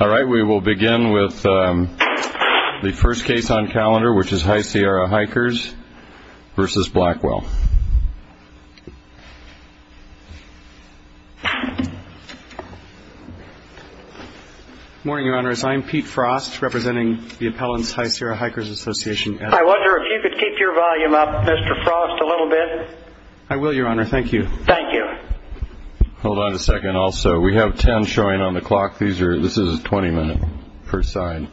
We will begin with the first case on calendar, which is High Sierra Hikers v. Blackwell. Good morning, Your Honors. I am Pete Frost, representing the appellants, High Sierra Hikers Association. I wonder if you could keep your volume up, Mr. Frost, a little bit. I will, Your Honor. Thank you. Thank you. Hold on a second, also. We have ten showing on the clock. This is a 20-minute per side.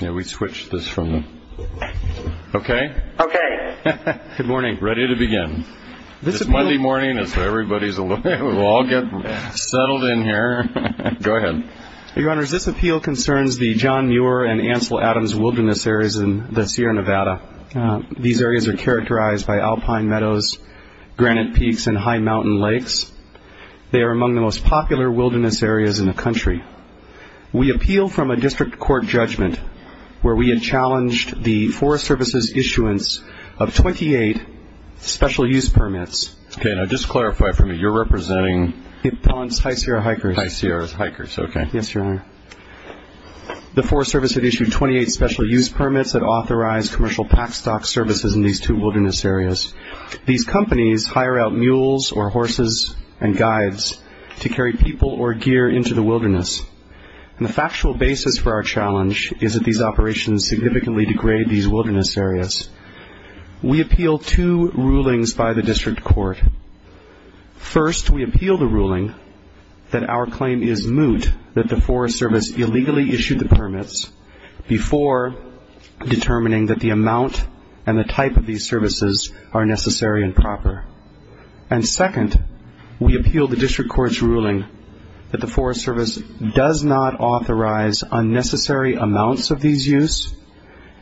Yeah, we switched this from the... Okay? Okay. Good morning. Ready to begin. This is Monday morning, so everybody will all get settled in here. Go ahead. Your Honors, this appeal concerns the John Muir and Ansel Adams wilderness areas in the Sierra Nevada. These areas are characterized by alpine meadows, granite peaks, and high mountain lakes. They are among the most popular wilderness areas in the country. We appeal from a district court judgment where we had challenged the Forest Service's issuance of 28 special use permits. Okay, now just clarify for me. You're representing... Appellants, High Sierra Hikers. High Sierra Hikers. Okay. Yes, Your Honor. The Forest Service had issued 28 special use permits that authorized commercial pack stock services in these two wilderness areas. These companies hire out mules or horses and guides to carry people or gear into the wilderness. And the factual basis for our challenge is that these operations significantly degrade these wilderness areas. We appeal two rulings by the district court. First, we appeal the ruling that our claim is moot that the Forest Service illegally issued the permits before determining that the amount and the type of these services are necessary and proper. And second, we appeal the district court's ruling that the Forest Service does not authorize unnecessary amounts of these use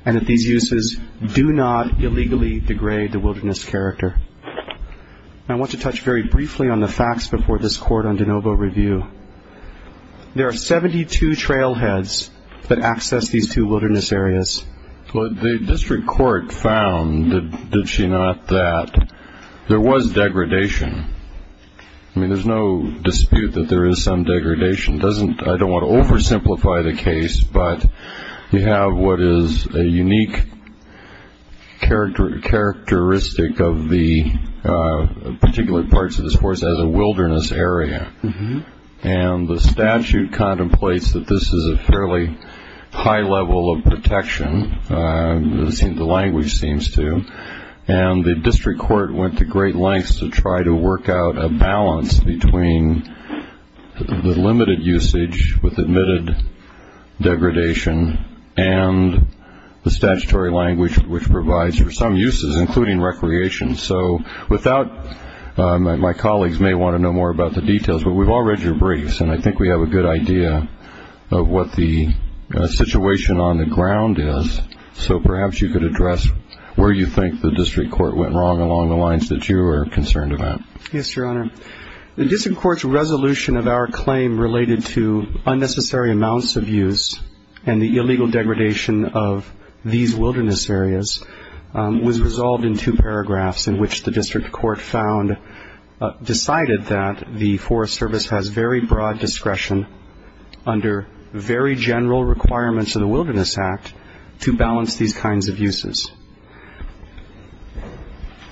and that these uses do not illegally degrade the wilderness character. I want to touch very briefly on the facts before this court on de novo review. There are 72 trailheads that access these two wilderness areas. Well, the district court found, did she not, that there was degradation. I mean, there's no dispute that there is some degradation. I don't want to oversimplify the case, but you have what is a unique characteristic of the particular parts of this forest as a wilderness area. And the statute contemplates that this is a fairly high level of protection. The language seems to. And the district court went to great lengths to try to work out a balance between the limited usage with admitted degradation and the statutory language which provides for some uses, including recreation. So without my colleagues may want to know more about the details, but we've all read your briefs, and I think we have a good idea of what the situation on the ground is. So perhaps you could address where you think the district court went wrong along the lines that you are concerned about. Yes, Your Honor. The district court's resolution of our claim related to unnecessary amounts of use and the illegal degradation of these wilderness areas was resolved in two paragraphs, in which the district court found, decided that the Forest Service has very broad discretion under very general requirements of the Wilderness Act to balance these kinds of uses.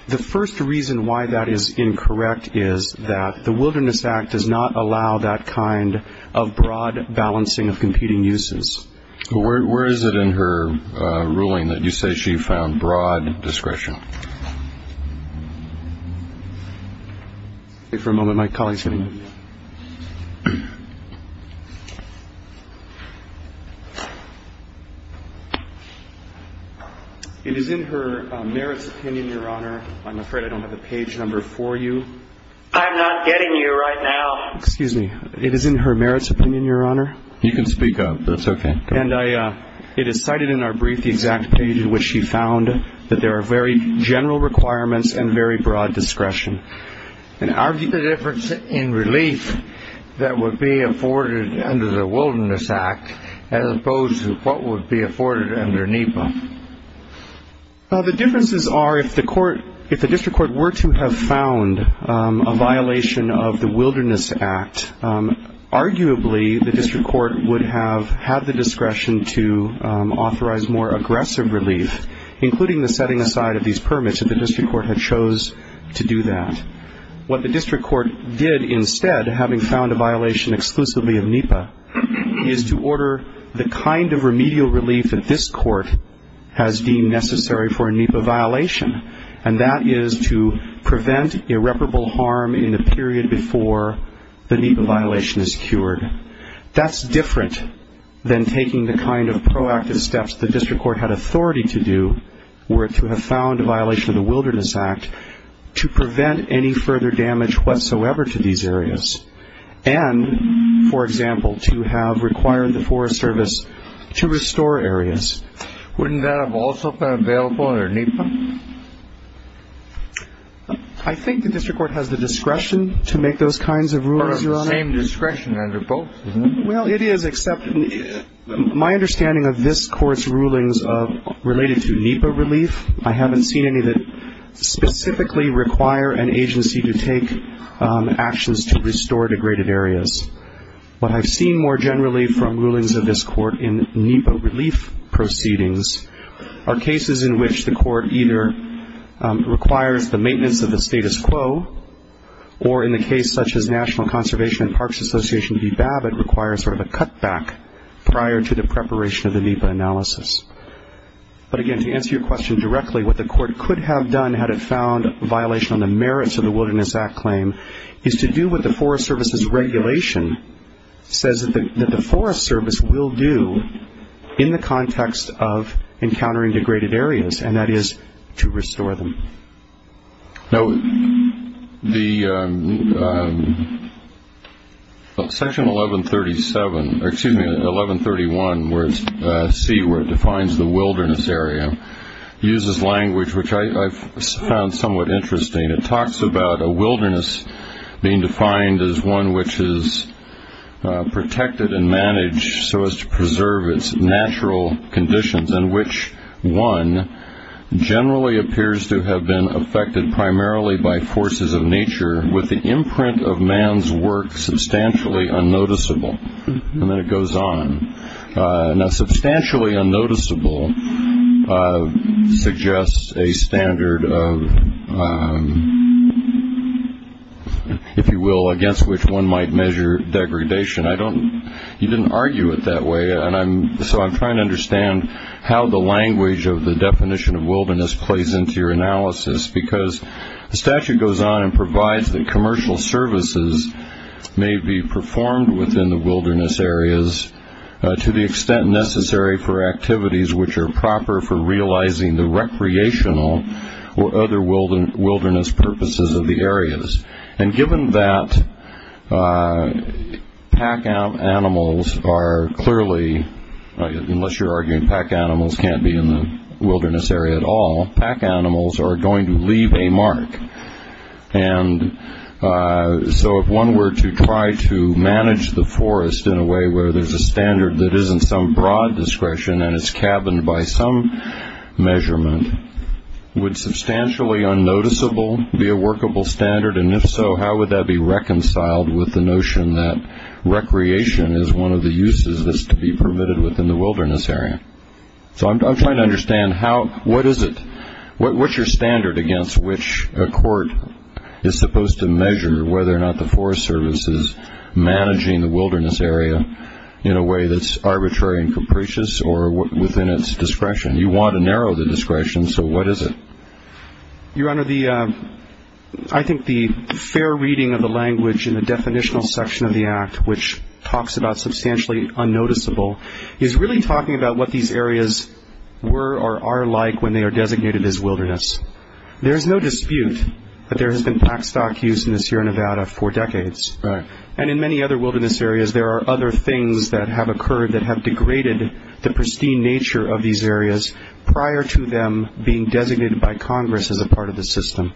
The first reason why that is incorrect is that the Wilderness Act does not allow that kind of broad balancing of competing uses. Where is it in her ruling that you say she found broad discretion? Wait for a moment. My colleague is going to give you that. It is in her merits opinion, Your Honor. I'm afraid I don't have the page number for you. I'm not getting you right now. Excuse me. It is in her merits opinion, Your Honor. You can speak up. That's okay. And it is cited in our brief the exact page in which she found that there are very general requirements and very broad discretion. And are the differences in relief that would be afforded under the Wilderness Act as opposed to what would be afforded under NEPA? The differences are if the district court were to have found a violation of the Wilderness Act, arguably the district court would have had the discretion to authorize more aggressive relief, including the setting aside of these permits if the district court had chose to do that. What the district court did instead, having found a violation exclusively of NEPA, is to order the kind of remedial relief that this court has deemed necessary for a NEPA violation, and that is to prevent irreparable harm in the period before the NEPA violation is cured. That's different than taking the kind of proactive steps the district court had authority to do were to have found a violation of the Wilderness Act to prevent any further damage whatsoever to these areas and, for example, to have required the Forest Service to restore areas. Wouldn't that have also been available under NEPA? I think the district court has the discretion to make those kinds of rules, Your Honor. Or the same discretion under both, isn't it? Well, it is, except my understanding of this Court's rulings related to NEPA relief, I haven't seen any that specifically require an agency to take actions to restore degraded areas. What I've seen more generally from rulings of this court in NEPA relief proceedings are cases in which the court either requires the maintenance of the status quo, or in the case such as National Conservation and Parks Association v. Babbitt, requires sort of a cutback prior to the preparation of the NEPA analysis. But again, to answer your question directly, what the court could have done had it found a violation on the merits of the Wilderness Act claim is to do what the Forest Service's regulation says that the Forest Service will do in the context of encountering degraded areas, and that is to restore them. Now, Section 1131C, where it defines the wilderness area, uses language which I've found somewhat interesting. It talks about a wilderness being defined as one which is protected and managed so as to preserve its natural conditions, and which one generally appears to have been affected primarily by forces of nature, with the imprint of man's work substantially unnoticeable. And then it goes on. Now, substantially unnoticeable suggests a standard of, if you will, against which one might measure degradation. You didn't argue it that way, so I'm trying to understand how the language of the definition of wilderness plays into your analysis, because the statute goes on and provides that commercial services may be performed within the wilderness areas to the extent necessary for activities which are proper for realizing the recreational or other wilderness purposes of the areas. And given that pack animals are clearly, unless you're arguing pack animals can't be in the wilderness area at all, pack animals are going to leave a mark. And so if one were to try to manage the forest in a way where there's a standard that is in some broad discretion and is cabined by some measurement, would substantially unnoticeable be a workable standard? And if so, how would that be reconciled with the notion that recreation is one of the uses that's to be permitted within the wilderness area? So I'm trying to understand what is it? What's your standard against which a court is supposed to measure whether or not the Forest Service is managing the wilderness area in a way that's arbitrary and capricious or within its discretion? You want to narrow the discretion, so what is it? Your Honor, I think the fair reading of the language in the definitional section of the Act, which talks about substantially unnoticeable, is really talking about what these areas were or are like when they are designated as wilderness. There is no dispute that there has been pack stock use in the Sierra Nevada for decades. And in many other wilderness areas, there are other things that have occurred that have degraded the pristine nature of these areas prior to them being designated by Congress as a part of the system.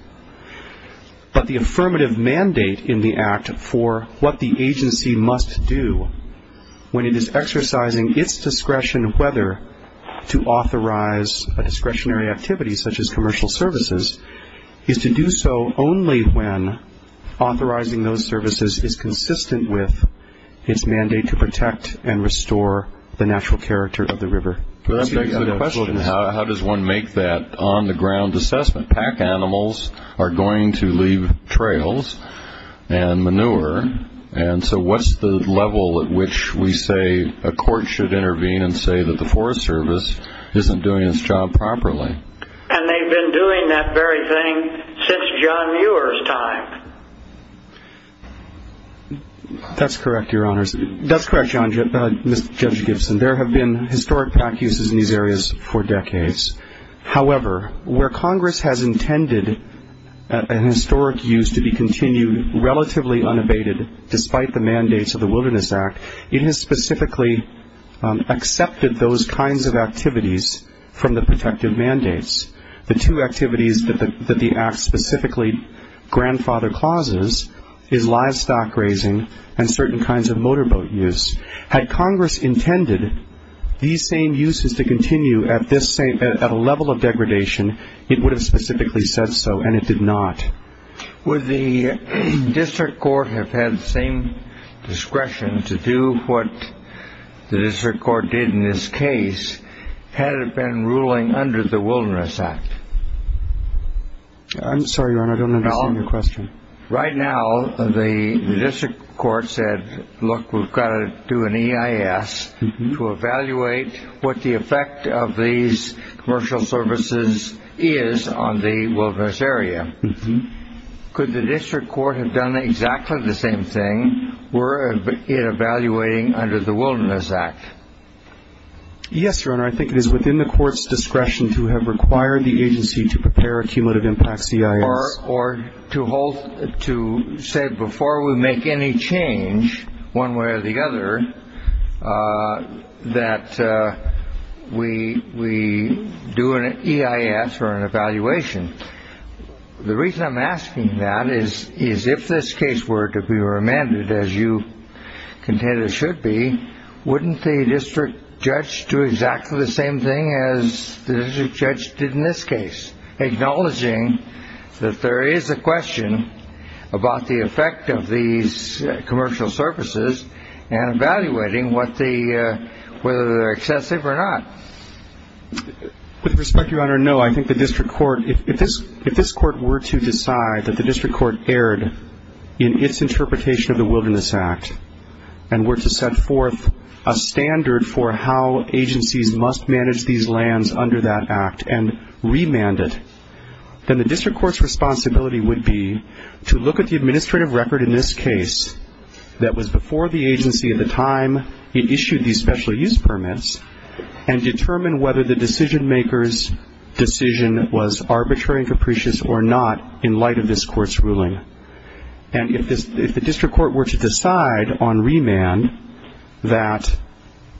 But the affirmative mandate in the Act for what the agency must do when it is exercising its discretion whether to authorize a discretionary activity such as commercial services is to do so only when authorizing those services is consistent with its mandate to protect and restore the natural character of the river. How does one make that on-the-ground assessment? Pack animals are going to leave trails and manure, and so what's the level at which we say a court should intervene and say that the Forest Service isn't doing its job properly? And they've been doing that very thing since John Muir's time. That's correct, Your Honors. That's correct, Judge Gibson. There have been historic pack uses in these areas for decades. However, where Congress has intended an historic use to be continued relatively unabated, despite the mandates of the Wilderness Act, it has specifically accepted those kinds of activities from the protective mandates. The two activities that the Act specifically grandfather clauses is livestock grazing and certain kinds of motorboat use. Had Congress intended these same uses to continue at a level of degradation, it would have specifically said so, and it did not. Would the district court have had the same discretion to do what the district court did in this case had it been ruling under the Wilderness Act? I'm sorry, Your Honor, I don't understand your question. Right now, the district court said, look, we've got to do an EIS to evaluate what the effect of these commercial services is on the wilderness area. Could the district court have done exactly the same thing were it evaluating under the Wilderness Act? Yes, Your Honor, I think it is within the court's discretion to have required the agency to prepare a cumulative impact EIS. Or to say before we make any change one way or the other that we do an EIS or an evaluation. The reason I'm asking that is if this case were to be remanded as you contend it should be, wouldn't the district judge do exactly the same thing as the district judge did in this case, acknowledging that there is a question about the effect of these commercial services and evaluating whether they're excessive or not? With respect, Your Honor, no. I think the district court, if this court were to decide that the district court erred in its interpretation of the Wilderness Act and were to set forth a standard for how agencies must manage these lands under that act and remand it, then the district court's responsibility would be to look at the administrative record in this case that was before the agency at the time it issued these special use permits and determine whether the decision maker's decision was arbitrary and capricious or not in light of this court's ruling. And if the district court were to decide on remand that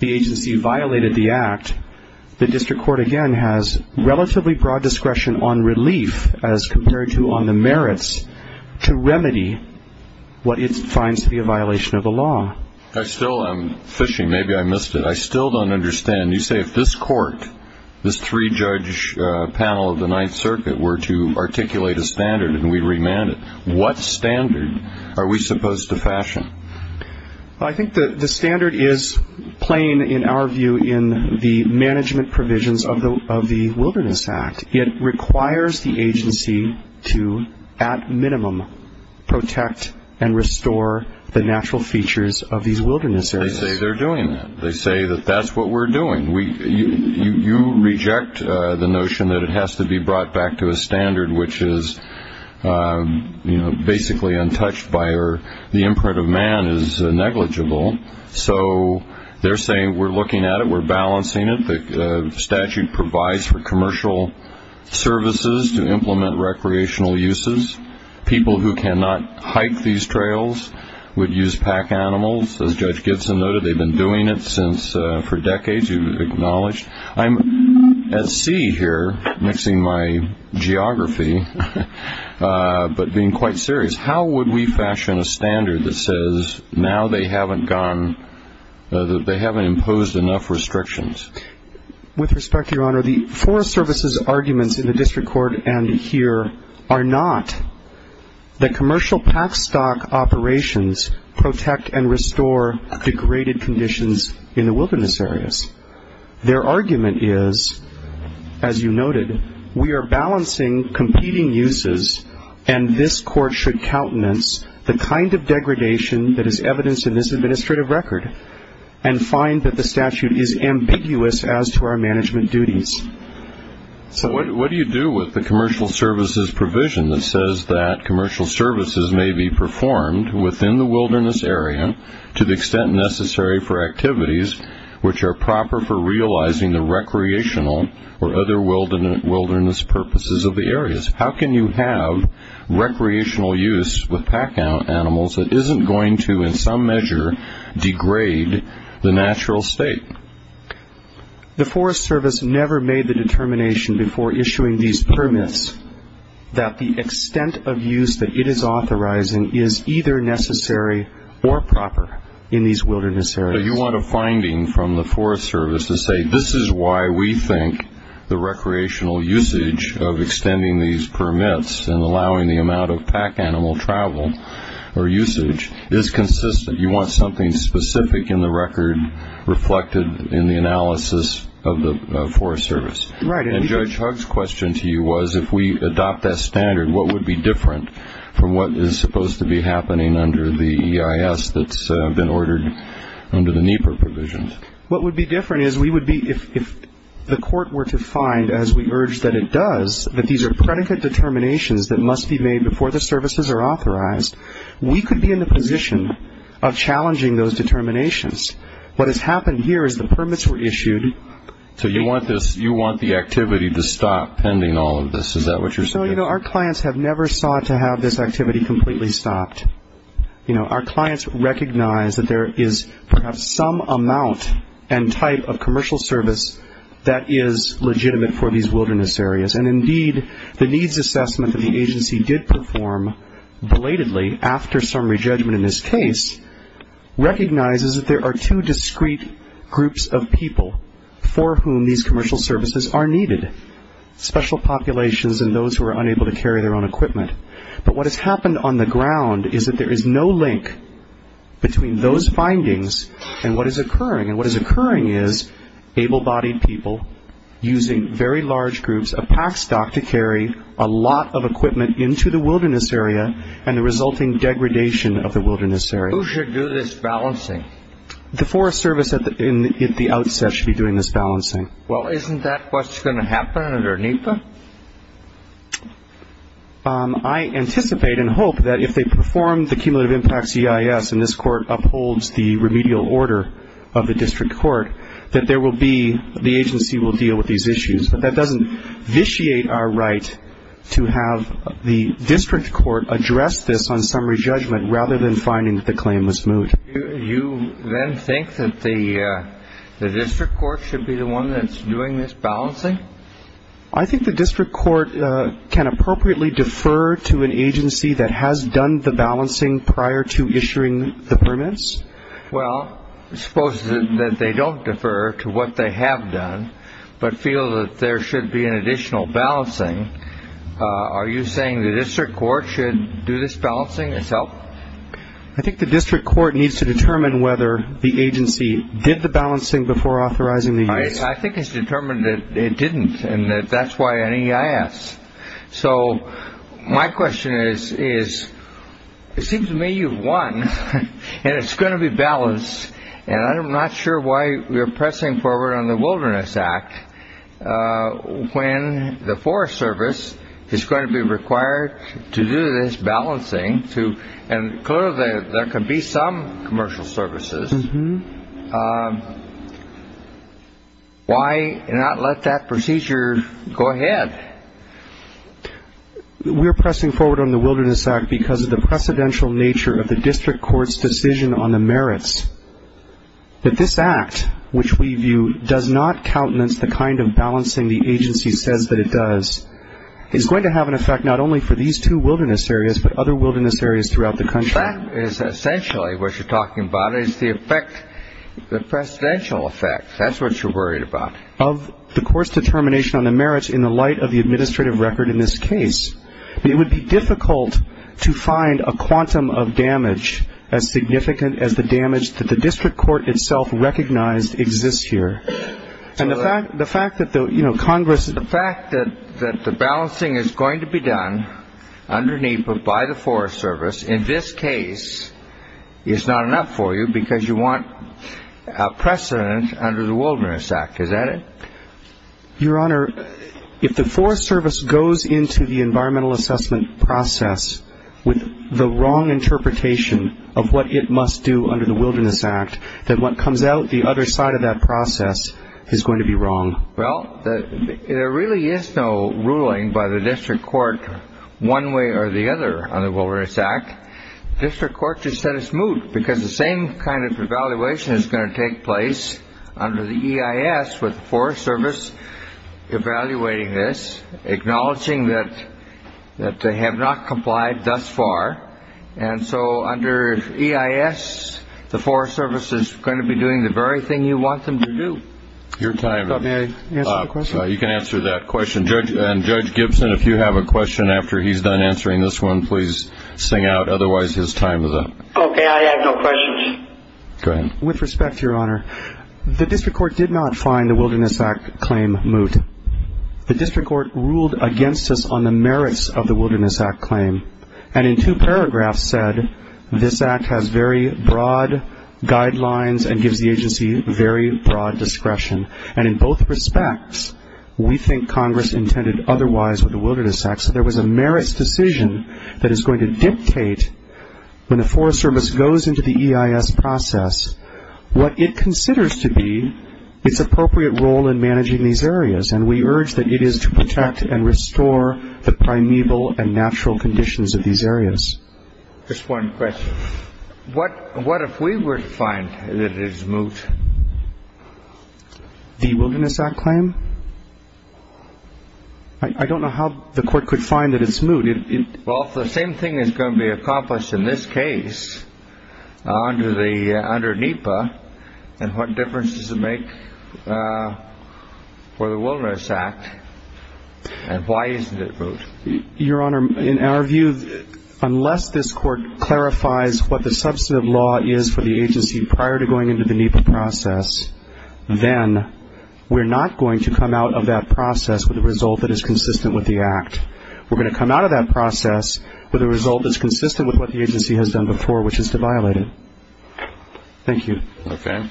the agency violated the act, the district court, again, has relatively broad discretion on relief as compared to on the merits to remedy what it finds to be a violation of the law. I still am fishing. Maybe I missed it. I still don't understand. You say if this court, this three-judge panel of the Ninth Circuit were to articulate a standard Well, I think the standard is plain, in our view, in the management provisions of the Wilderness Act. It requires the agency to, at minimum, protect and restore the natural features of these wilderness areas. They say they're doing that. They say that that's what we're doing. You reject the notion that it has to be brought back to a standard which is, you know, basically untouched by or the imprint of man is negligible. So they're saying we're looking at it, we're balancing it. The statute provides for commercial services to implement recreational uses. People who cannot hike these trails would use pack animals. As Judge Gibson noted, they've been doing it for decades. You've acknowledged. I'm at sea here, mixing my geography, but being quite serious. How would we fashion a standard that says now they haven't imposed enough restrictions? With respect, Your Honor, the Forest Service's arguments in the district court and here are not that commercial pack stock operations protect and restore degraded conditions in the wilderness areas. Their argument is, as you noted, we are balancing competing uses and this court should countenance the kind of degradation that is evidenced in this administrative record and find that the statute is ambiguous as to our management duties. So what do you do with the commercial services provision that says that commercial services may be performed within the wilderness area to the extent necessary for activities which are proper for realizing the recreational or other wilderness purposes of the areas? How can you have recreational use with pack animals that isn't going to, in some measure, degrade the natural state? The Forest Service never made the determination before issuing these permits that the extent of use that it is authorizing is either necessary or proper in these wilderness areas. But you want a finding from the Forest Service to say this is why we think the recreational usage of extending these permits and allowing the amount of pack animal travel or usage is consistent. You want something specific in the record reflected in the analysis of the Forest Service. Right. And Judge Hugg's question to you was, if we adopt that standard, what would be different from what is supposed to be happening under the EIS that's been ordered under the NEPA provisions? What would be different is we would be, if the court were to find, as we urge that it does, that these are predicate determinations that must be made before the services are authorized, we could be in the position of challenging those determinations. What has happened here is the permits were issued. So you want this, you want the activity to stop pending all of this. Is that what you're saying? So, you know, our clients have never sought to have this activity completely stopped. You know, our clients recognize that there is perhaps some amount and type of commercial service that is legitimate for these wilderness areas, and indeed the needs assessment that the agency did perform belatedly after some re-judgment in this case recognizes that there are two discrete groups of people for whom these commercial services are needed, special populations and those who are unable to carry their own equipment. But what has happened on the ground is that there is no link between those findings and what is occurring. And what is occurring is able-bodied people using very large groups of pack stock to carry a lot of equipment into the wilderness area and the resulting degradation of the wilderness area. Who should do this balancing? The Forest Service at the outset should be doing this balancing. Well, isn't that what's going to happen under NEPA? I anticipate and hope that if they perform the cumulative impacts EIS and this court upholds the remedial order of the district court, that there will be the agency will deal with these issues. But that doesn't vitiate our right to have the district court address this on summary judgment rather than finding that the claim was moved. You then think that the district court should be the one that's doing this balancing? I think the district court can appropriately defer to an agency that has done the balancing prior to issuing the permits. Well, suppose that they don't defer to what they have done but feel that there should be an additional balancing. Are you saying the district court should do this balancing itself? I think the district court needs to determine whether the agency did the balancing before authorizing the use. I think it's determined that it didn't and that that's why an EIS. So my question is, is it seems to me you've won and it's going to be balanced. And I'm not sure why you're pressing forward on the Wilderness Act when the Forest Service is going to be required to do this balancing. And clearly there could be some commercial services. Why not let that procedure go ahead? We're pressing forward on the Wilderness Act because of the precedential nature of the district court's decision on the merits. But this act, which we view does not countenance the kind of balancing the agency says that it does, is going to have an effect not only for these two wilderness areas but other wilderness areas throughout the country. The fact is essentially what you're talking about is the effect, the precedential effect. That's what you're worried about. Of the court's determination on the merits in the light of the administrative record in this case, it would be difficult to find a quantum of damage as significant as the damage that the district court itself recognized exists here. The fact that the balancing is going to be done underneath by the Forest Service in this case is not enough for you because you want a precedent under the Wilderness Act, is that it? Your Honor, if the Forest Service goes into the environmental assessment process with the wrong interpretation of what it must do under the Wilderness Act, then what comes out the other side of that process is going to be wrong. Well, there really is no ruling by the district court one way or the other on the Wilderness Act. The district court just said it's moot because the same kind of evaluation is going to take place under the EIS with the Forest Service evaluating this, acknowledging that they have not complied thus far. And so under EIS, the Forest Service is going to be doing the very thing you want them to do. Your time is up. May I answer the question? You can answer that question. Judge Gibson, if you have a question after he's done answering this one, please sing out. Otherwise, his time is up. Okay, I have no questions. Go ahead. With respect, Your Honor, the district court did not find the Wilderness Act claim moot. The district court ruled against us on the merits of the Wilderness Act claim. And in two paragraphs said this act has very broad guidelines and gives the agency very broad discretion. And in both respects, we think Congress intended otherwise with the Wilderness Act. So there was a merits decision that is going to dictate when the Forest Service goes into the EIS process what it considers to be its appropriate role in managing these areas. And we urge that it is to protect and restore the primeval and natural conditions of these areas. Just one question. What if we were to find that it is moot? The Wilderness Act claim? I don't know how the court could find that it's moot. Well, if the same thing is going to be accomplished in this case under NEPA, then what difference does it make for the Wilderness Act? And why isn't it moot? Your Honor, in our view, unless this court clarifies what the substantive law is for the agency prior to going into the NEPA process, then we're not going to come out of that process with a result that is consistent with the act. We're going to come out of that process with a result that's consistent with what the agency has done before, which is to violate it. Thank you. Okay.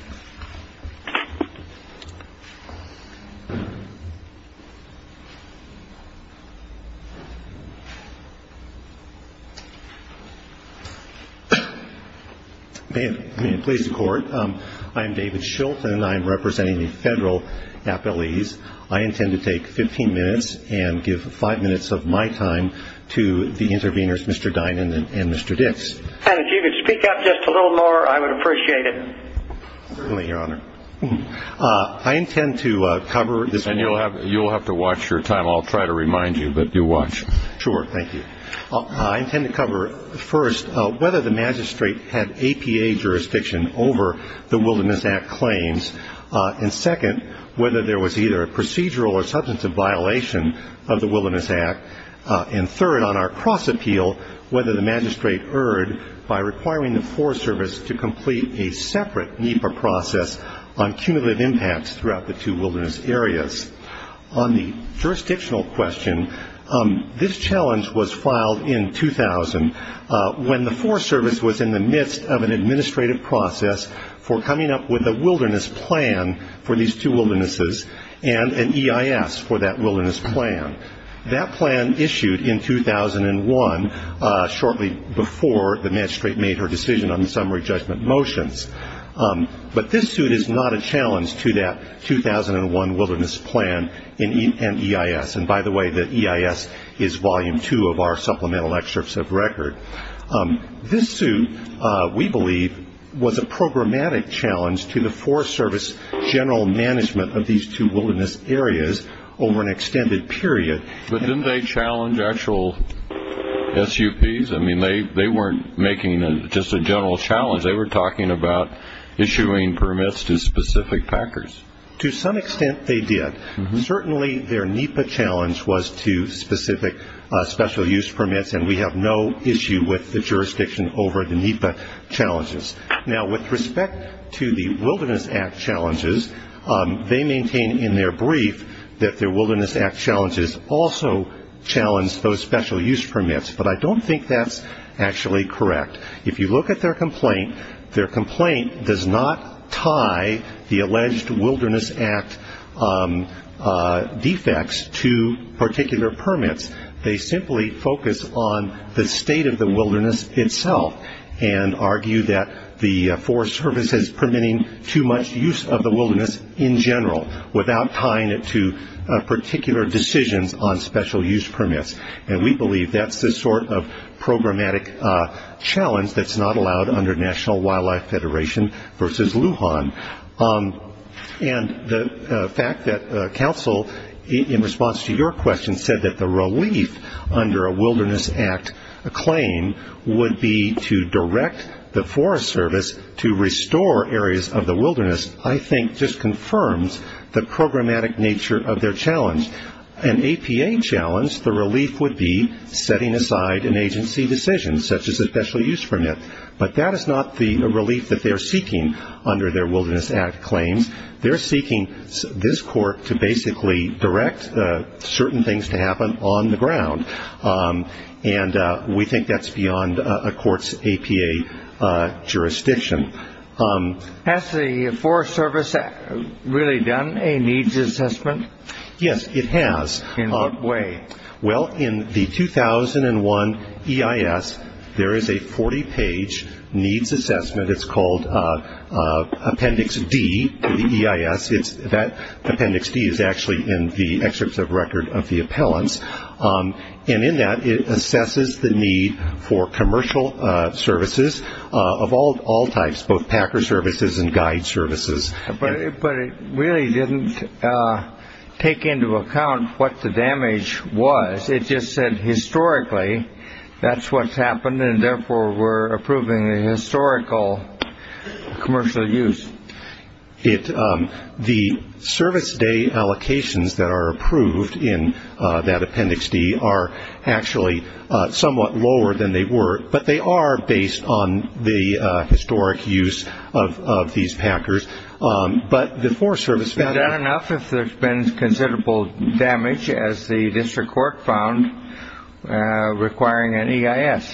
May it please the Court, I am David Shilton. I am representing the federal appellees. I intend to take 15 minutes and give five minutes of my time to the interveners, Mr. Dinan and Mr. Dix. And if you could speak up just a little more, I would appreciate it. Certainly, Your Honor. I intend to cover this point. And you'll have to watch your time. I'll try to remind you, but do watch. Sure. Thank you. I intend to cover, first, whether the magistrate had APA jurisdiction over the Wilderness Act claims, and second, whether there was either a procedural or substantive violation of the Wilderness Act, and third, on our cross-appeal, whether the magistrate erred by requiring the Forest Service to complete a separate NEPA process on cumulative impacts throughout the two wilderness areas. On the jurisdictional question, this challenge was filed in 2000, when the Forest Service was in the midst of an administrative process for coming up with a wilderness plan for these two wildernesses and an EIS for that wilderness plan. That plan issued in 2001, shortly before the magistrate made her decision on the summary judgment motions. But this suit is not a challenge to that 2001 wilderness plan and EIS. And by the way, the EIS is volume two of our supplemental excerpts of record. This suit, we believe, was a programmatic challenge to the Forest Service general management of these two wilderness areas over an extended period. But didn't they challenge actual SUPs? I mean, they weren't making just a general challenge. They were talking about issuing permits to specific packers. To some extent, they did. Certainly, their NEPA challenge was to specific special use permits, and we have no issue with the jurisdiction over the NEPA challenges. Now, with respect to the Wilderness Act challenges, they maintain in their brief that their Wilderness Act challenges also challenge those special use permits. But I don't think that's actually correct. If you look at their complaint, their complaint does not tie the alleged Wilderness Act defects to particular permits. They simply focus on the state of the wilderness itself and argue that the Forest Service is permitting too much use of the wilderness in general without tying it to particular decisions on special use permits. And we believe that's the sort of programmatic challenge that's not allowed under National Wildlife Federation versus Lujan. And the fact that counsel, in response to your question, said that the relief under a Wilderness Act claim would be to direct the Forest Service to restore areas of the wilderness, I think just confirms the programmatic nature of their challenge. An APA challenge, the relief would be setting aside an agency decision, such as a special use permit. But that is not the relief that they're seeking under their Wilderness Act claims. They're seeking this court to basically direct certain things to happen on the ground. And we think that's beyond a court's APA jurisdiction. Has the Forest Service really done a needs assessment? Yes, it has. In what way? Well, in the 2001 EIS, there is a 40-page needs assessment. It's called Appendix D to the EIS. Appendix D is actually in the excerpts of record of the appellants. And in that, it assesses the need for commercial services of all types, both packer services and guide services. But it really didn't take into account what the damage was. It just said, historically, that's what's happened, and therefore we're approving a historical commercial use. The service day allocations that are approved in that Appendix D are actually somewhat lower than they were, but they are based on the historic use of these packers. But the Forest Service found that. Is that enough if there's been considerable damage, as the district court found, requiring an EIS?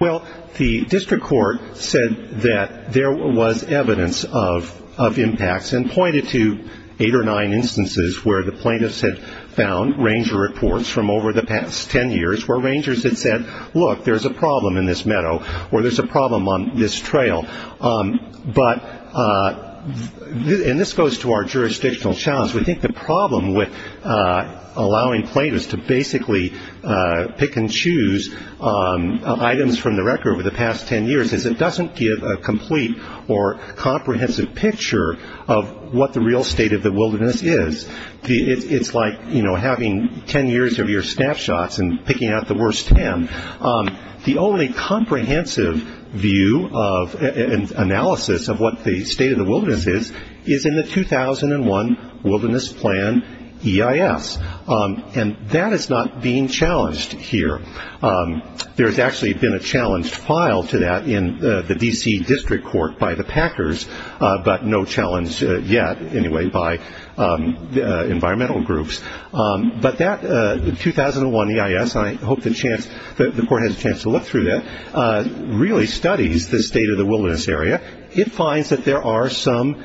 Well, the district court said that there was evidence of impacts and pointed to eight or nine instances where the plaintiffs had found ranger reports from over the past ten years where rangers had said, look, there's a problem in this meadow or there's a problem on this trail. But this goes to our jurisdictional challenge. We think the problem with allowing plaintiffs to basically pick and choose items from the record over the past ten years is it doesn't give a complete or comprehensive picture of what the real state of the wilderness is. It's like having ten years of your snapshots and picking out the worst ten. The only comprehensive view and analysis of what the state of the wilderness is, is in the 2001 Wilderness Plan EIS. And that is not being challenged here. There's actually been a challenged file to that in the D.C. District Court by the packers, but no challenge yet, anyway, by environmental groups. But that 2001 EIS, and I hope the court has a chance to look through that, really studies the state of the wilderness area. It finds that there are some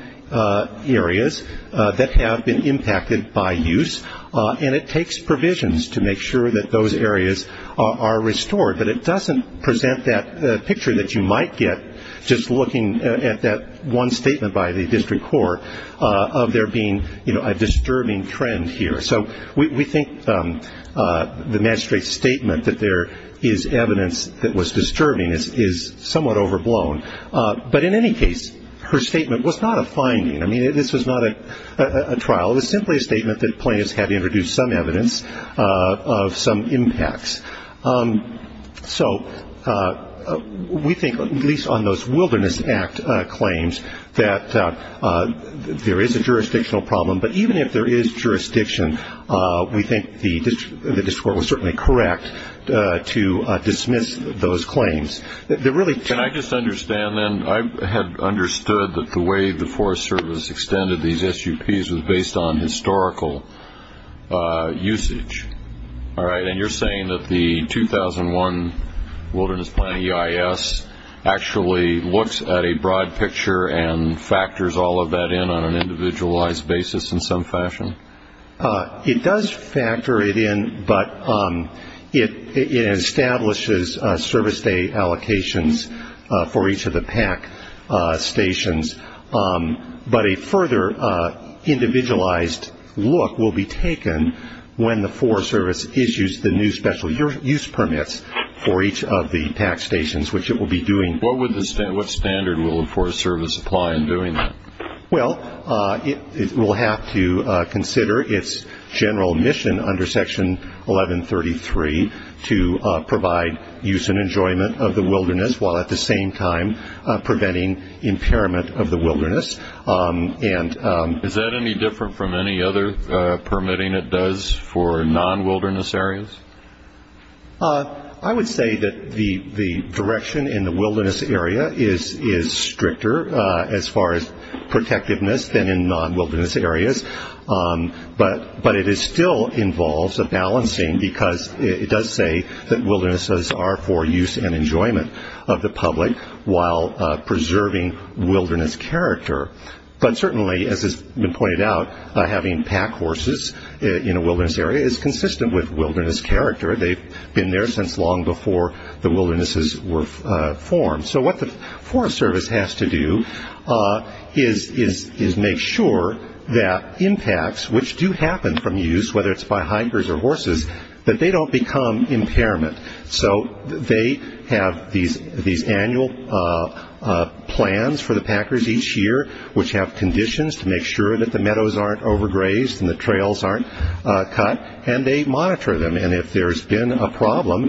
areas that have been impacted by use, and it takes provisions to make sure that those areas are restored. But it doesn't present that picture that you might get just looking at that one statement by the district court of there being a disturbing trend here. So we think the magistrate's statement that there is evidence that was disturbing is somewhat overblown. But in any case, her statement was not a finding. I mean, this was not a trial. It was simply a statement that plaintiffs had introduced some evidence of some impacts. So we think, at least on those Wilderness Act claims, that there is a jurisdictional problem. But even if there is jurisdiction, we think the district court was certainly correct to dismiss those claims. Can I just understand, then? I had understood that the way the Forest Service extended these SUPs was based on historical usage. And you're saying that the 2001 Wilderness Plan EIS actually looks at a broad picture and factors all of that in on an individualized basis in some fashion? It does factor it in, but it establishes service day allocations for each of the PAC stations. But a further individualized look will be taken when the Forest Service issues the new special use permits for each of the PAC stations, which it will be doing. What standard will the Forest Service apply in doing that? Well, it will have to consider its general mission under Section 1133 to provide use and enjoyment of the wilderness while at the same time preventing impairment of the wilderness. Is that any different from any other permitting it does for non-wilderness areas? I would say that the direction in the wilderness area is stricter as far as protectiveness than in non-wilderness areas. But it still involves a balancing because it does say that wildernesses are for use and enjoyment of the public while preserving wilderness character. But certainly, as has been pointed out, having PAC horses in a wilderness area is consistent with wilderness character. They've been there since long before the wildernesses were formed. So what the Forest Service has to do is make sure that impacts, which do happen from use, whether it's by hikers or horses, that they don't become impairment. So they have these annual plans for the packers each year, which have conditions to make sure that the meadows aren't overgrazed and the trails aren't cut, and they monitor them. And if there's been a problem,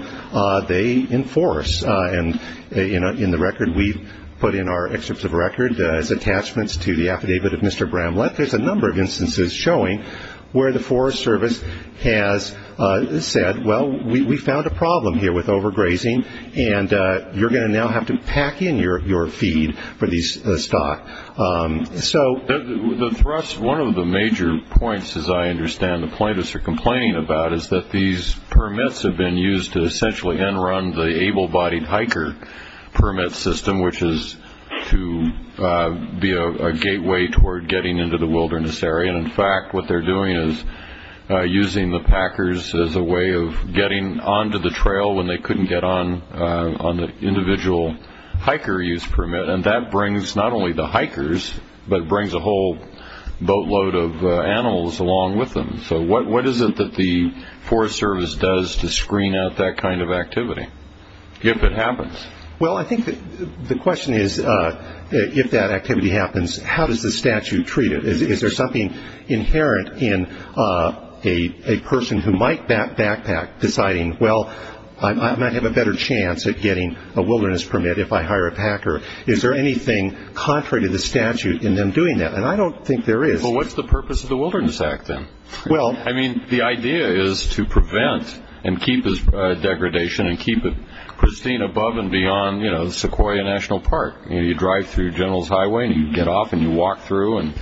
they enforce. And in the record we put in our excerpts of record as attachments to the affidavit of Mr. Bramlett, there's a number of instances showing where the Forest Service has said, well, we found a problem here with overgrazing, and you're going to now have to pack in your feed for these stock. So the thrust, one of the major points, as I understand the plaintiffs are complaining about, is that these permits have been used to essentially run the able-bodied hiker permit system, which is to be a gateway toward getting into the wilderness area. And, in fact, what they're doing is using the packers as a way of getting onto the trail when they couldn't get on the individual hiker use permit. And that brings not only the hikers, but it brings a whole boatload of animals along with them. So what is it that the Forest Service does to screen out that kind of activity if it happens? Well, I think the question is, if that activity happens, how does the statute treat it? Is there something inherent in a person who might backpack deciding, well, I might have a better chance at getting a wilderness permit if I hire a packer? Is there anything contrary to the statute in them doing that? And I don't think there is. Well, what's the purpose of the Wilderness Act then? Well, I mean, the idea is to prevent and keep degradation and keep it pristine above and beyond, you know, Sequoia National Park. You drive through General's Highway and you get off and you walk through and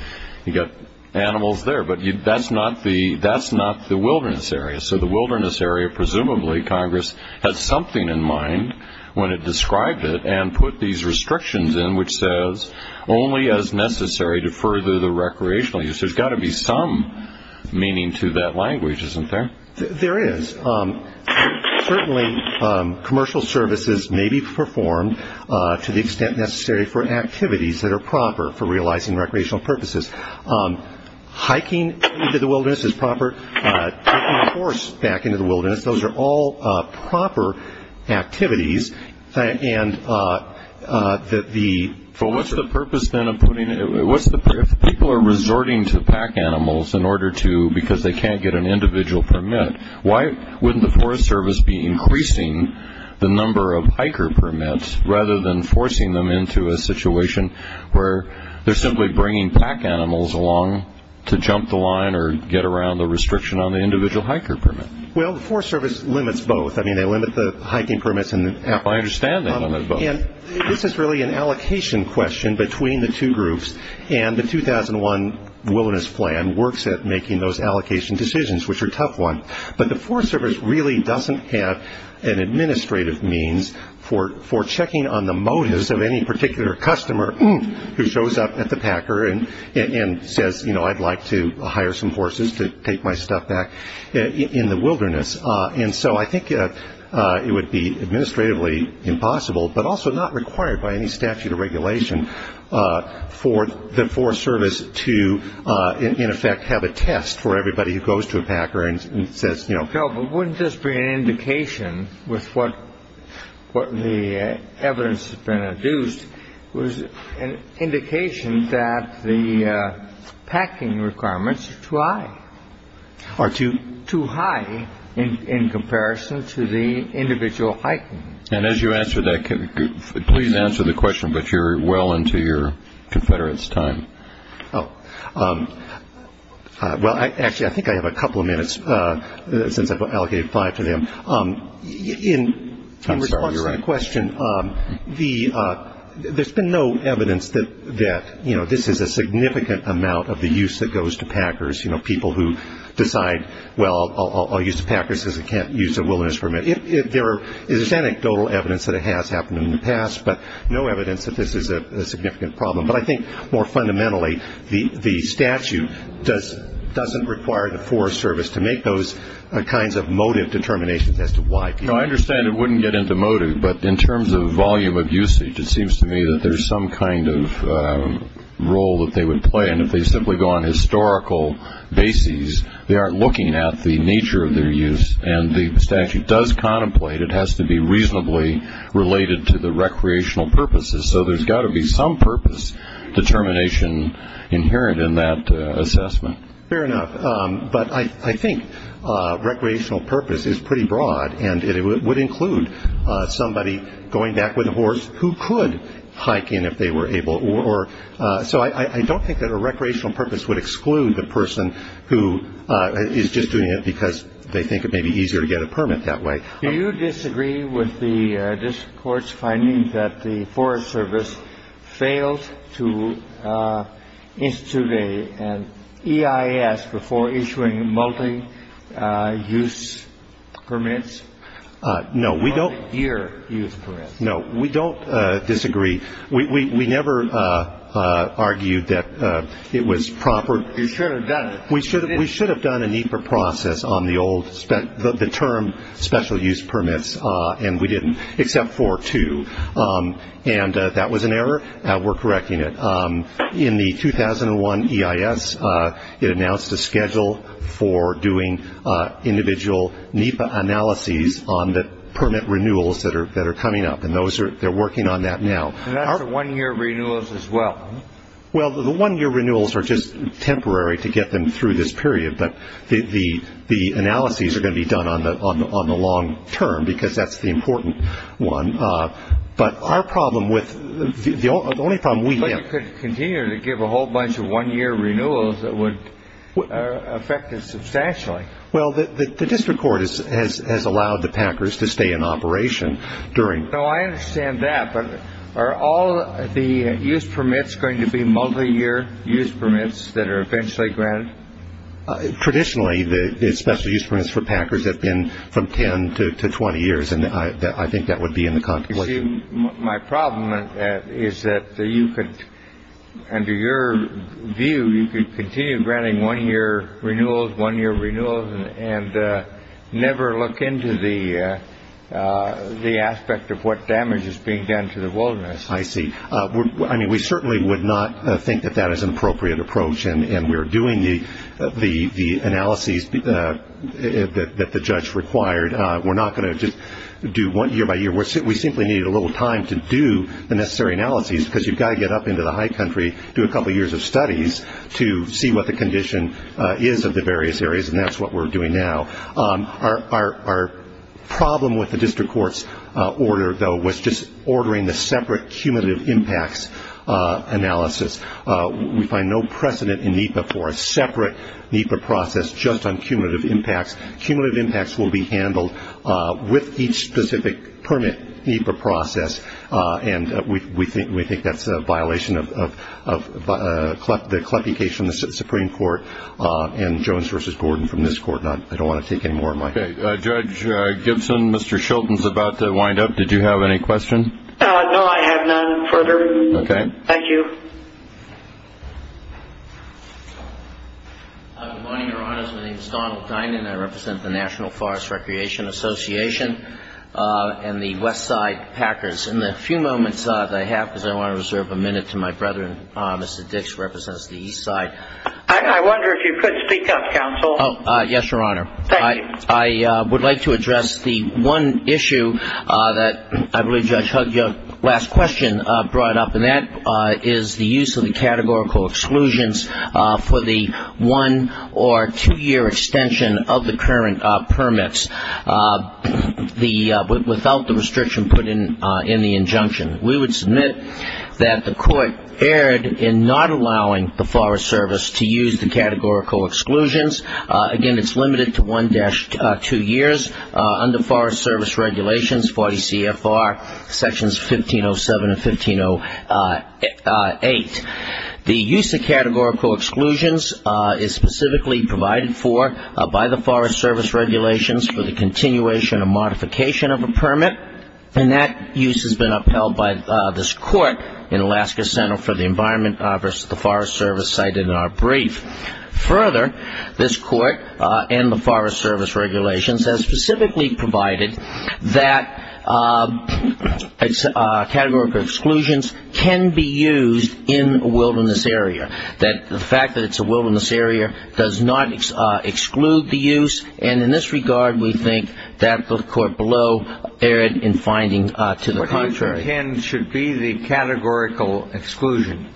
you've got animals there. But that's not the wilderness area. So the wilderness area, presumably, Congress has something in mind when it described it and put these restrictions in which says, only as necessary to further the recreational use. There's got to be some meaning to that language, isn't there? There is. Certainly, commercial services may be performed to the extent necessary for activities that are proper for realizing recreational purposes. Hiking into the wilderness is proper. Taking a horse back into the wilderness, those are all proper activities. But what's the purpose then of putting it? If people are resorting to pack animals because they can't get an individual permit, why wouldn't the Forest Service be increasing the number of hiker permits rather than forcing them into a situation where they're simply bringing pack animals along to jump the line or get around the restriction on the individual hiker permit? Well, the Forest Service limits both. I mean, they limit the hiking permits. I understand that. This is really an allocation question between the two groups, and the 2001 wilderness plan works at making those allocation decisions, which are a tough one. But the Forest Service really doesn't have an administrative means for checking on the motives of any particular customer who shows up at the packer and says, you know, I'd like to hire some horses to take my stuff back in the wilderness. And so I think it would be administratively impossible, but also not required by any statute or regulation for the Forest Service to, in effect, have a test for everybody who goes to a packer and says, you know. But wouldn't this be an indication with what the evidence has been adduced, an indication that the packing requirements are too high, or too high in comparison to the individual hiking? And as you answer that, please answer the question, but you're well into your confederates' time. Oh. Well, actually, I think I have a couple of minutes since I've allocated five to them. I'm sorry, you're right. To answer your question, there's been no evidence that, you know, this is a significant amount of the use that goes to packers, you know, people who decide, well, I'll use the packers because I can't use the wilderness permit. There is anecdotal evidence that it has happened in the past, but no evidence that this is a significant problem. But I think more fundamentally, the statute doesn't require the Forest Service to make those kinds of motive determinations as to why people. You know, I understand it wouldn't get into motive, but in terms of volume of usage, it seems to me that there's some kind of role that they would play. And if they simply go on historical bases, they aren't looking at the nature of their use. And the statute does contemplate it has to be reasonably related to the recreational purposes. So there's got to be some purpose determination inherent in that assessment. Fair enough. But I think recreational purpose is pretty broad, and it would include somebody going back with a horse who could hike in if they were able or. So I don't think that a recreational purpose would exclude the person who is just doing it because they think it may be easier to get a permit that way. Do you disagree with this court's finding that the Forest Service failed to institute an EIS before issuing multi-use permits? No, we don't. Multi-year use permits. No, we don't disagree. We never argued that it was proper. You should have done it. We should have done a NEPA process on the term special use permits, and we didn't, except for two. And that was an error. We're correcting it. In the 2001 EIS, it announced a schedule for doing individual NEPA analyses on the permit renewals that are coming up, and they're working on that now. And that's a one-year renewals as well. Well, the one-year renewals are just temporary to get them through this period, but the analyses are going to be done on the long term because that's the important one. But our problem with the only problem we have. But you could continue to give a whole bunch of one-year renewals that would affect us substantially. Well, the district court has allowed the Packers to stay in operation during. No, I understand that. But are all the use permits going to be multi-year use permits that are eventually granted? Traditionally, the special use permits for Packers have been from 10 to 20 years, and I think that would be in the contemplation. My problem is that you could, under your view, you could continue granting one-year renewals, and never look into the aspect of what damage is being done to the wilderness. I see. I mean, we certainly would not think that that is an appropriate approach, and we're doing the analyses that the judge required. We're not going to just do one year by year. We simply need a little time to do the necessary analyses because you've got to get up into the high country, do a couple years of studies to see what the condition is of the various areas, and that's what we're doing now. Our problem with the district court's order, though, was just ordering the separate cumulative impacts analysis. We find no precedent in NEPA for a separate NEPA process just on cumulative impacts. Cumulative impacts will be handled with each specific permit NEPA process, and we think that's a violation of the CLEPI case in the Supreme Court and Jones v. Gordon from this court. I don't want to take any more of my time. Okay. Judge Gibson, Mr. Shilton's about to wind up. Did you have any questions? No, I have none further. Okay. Thank you. Good morning, Your Honors. My name is Donald Dinan, and I represent the National Forest Recreation Association and the Westside Packers. In the few moments that I have, because I want to reserve a minute to my brethren, Mr. Dix represents the Eastside. I wonder if you could speak up, counsel. Yes, Your Honor. Thank you. I would like to address the one issue that I believe Judge Huggins' last question brought up, and that is the use of the categorical exclusions for the one- or two-year extension of the current permits. Without the restriction put in the injunction, we would submit that the court erred in not allowing the Forest Service to use the categorical exclusions. Again, it's limited to one-to-two years under Forest Service regulations, 40 CFR Sections 1507 and 1508. The use of categorical exclusions is specifically provided for by the Forest Service regulations for the continuation or modification of a permit, and that use has been upheld by this court in Alaska Center for the Environment versus the Forest Service cited in our brief. Further, this court and the Forest Service regulations have specifically provided that categorical exclusions can be used in a wilderness area, that the fact that it's a wilderness area does not exclude the use, and in this regard we think that the court below erred in finding to the contrary. What you contend should be the categorical exclusion?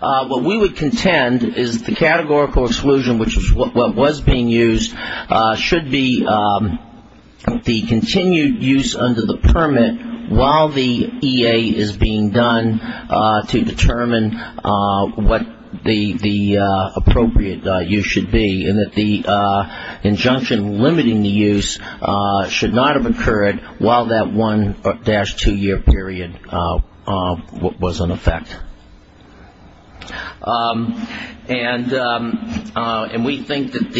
What we would contend is the categorical exclusion, which is what was being used, should be the continued use under the permit while the EA is being done to determine what the appropriate use should be, and that the injunction limiting the use should not have occurred while that one-to-two year period was in effect. And we think that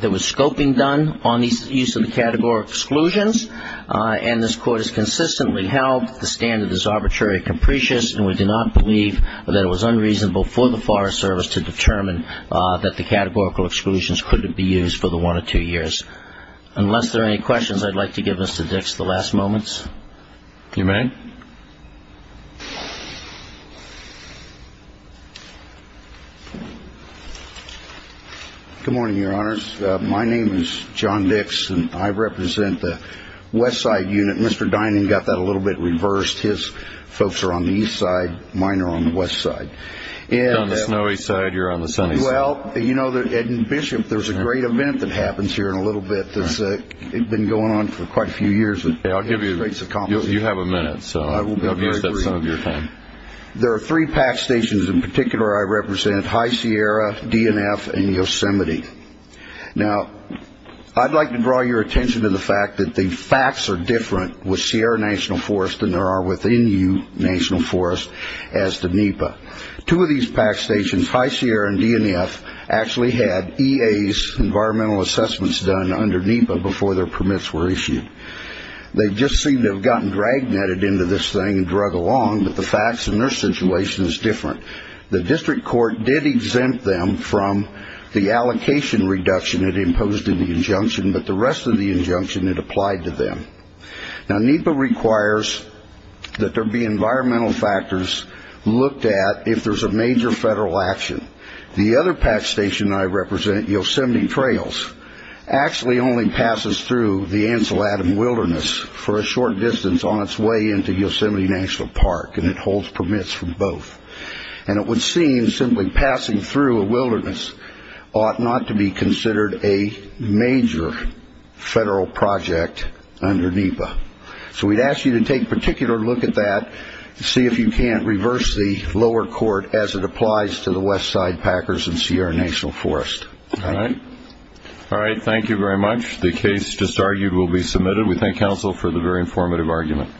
there was scoping done on the use of the categorical exclusions, and this court has consistently held the standard is arbitrary and capricious, and we do not believe that it was unreasonable for the Forest Service to determine that the categorical exclusions couldn't be used for the one-to-two years. Unless there are any questions, I'd like to give this to Dix the last moments. If you may. Good morning, Your Honors. My name is John Dix, and I represent the west side unit. Mr. Dining got that a little bit reversed. His folks are on the east side. Mine are on the west side. You're on the snowy side. You're on the sunny side. Well, you know, Bishop, there's a great event that happens here in a little bit that's been going on for quite a few years. You have a minute, so I'll give you some of your time. There are three PAC stations in particular I represent, High Sierra, DNF, and Yosemite. Now, I'd like to draw your attention to the fact that the facts are different with Sierra National Forest than there are within you, National Forest, as to NEPA. Two of these PAC stations, High Sierra and DNF, actually had EA's environmental assessments done under NEPA before their permits were issued. They just seem to have gotten dragnetted into this thing and drug along, but the facts in their situation is different. The district court did exempt them from the allocation reduction it imposed in the injunction, but the rest of the injunction, it applied to them. Now, NEPA requires that there be environmental factors looked at if there's a major federal action. The other PAC station I represent, Yosemite Trails, actually only passes through the Ansel Adams Wilderness for a short distance on its way into Yosemite National Park, and it holds permits for both. It would seem simply passing through a wilderness ought not to be considered a major federal project under NEPA. So we'd ask you to take a particular look at that, and see if you can't reverse the lower court as it applies to the westside packers in Sierra National Forest. Thank you. All right. Thank you very much. The case just argued will be submitted. We thank counsel for the very informative argument.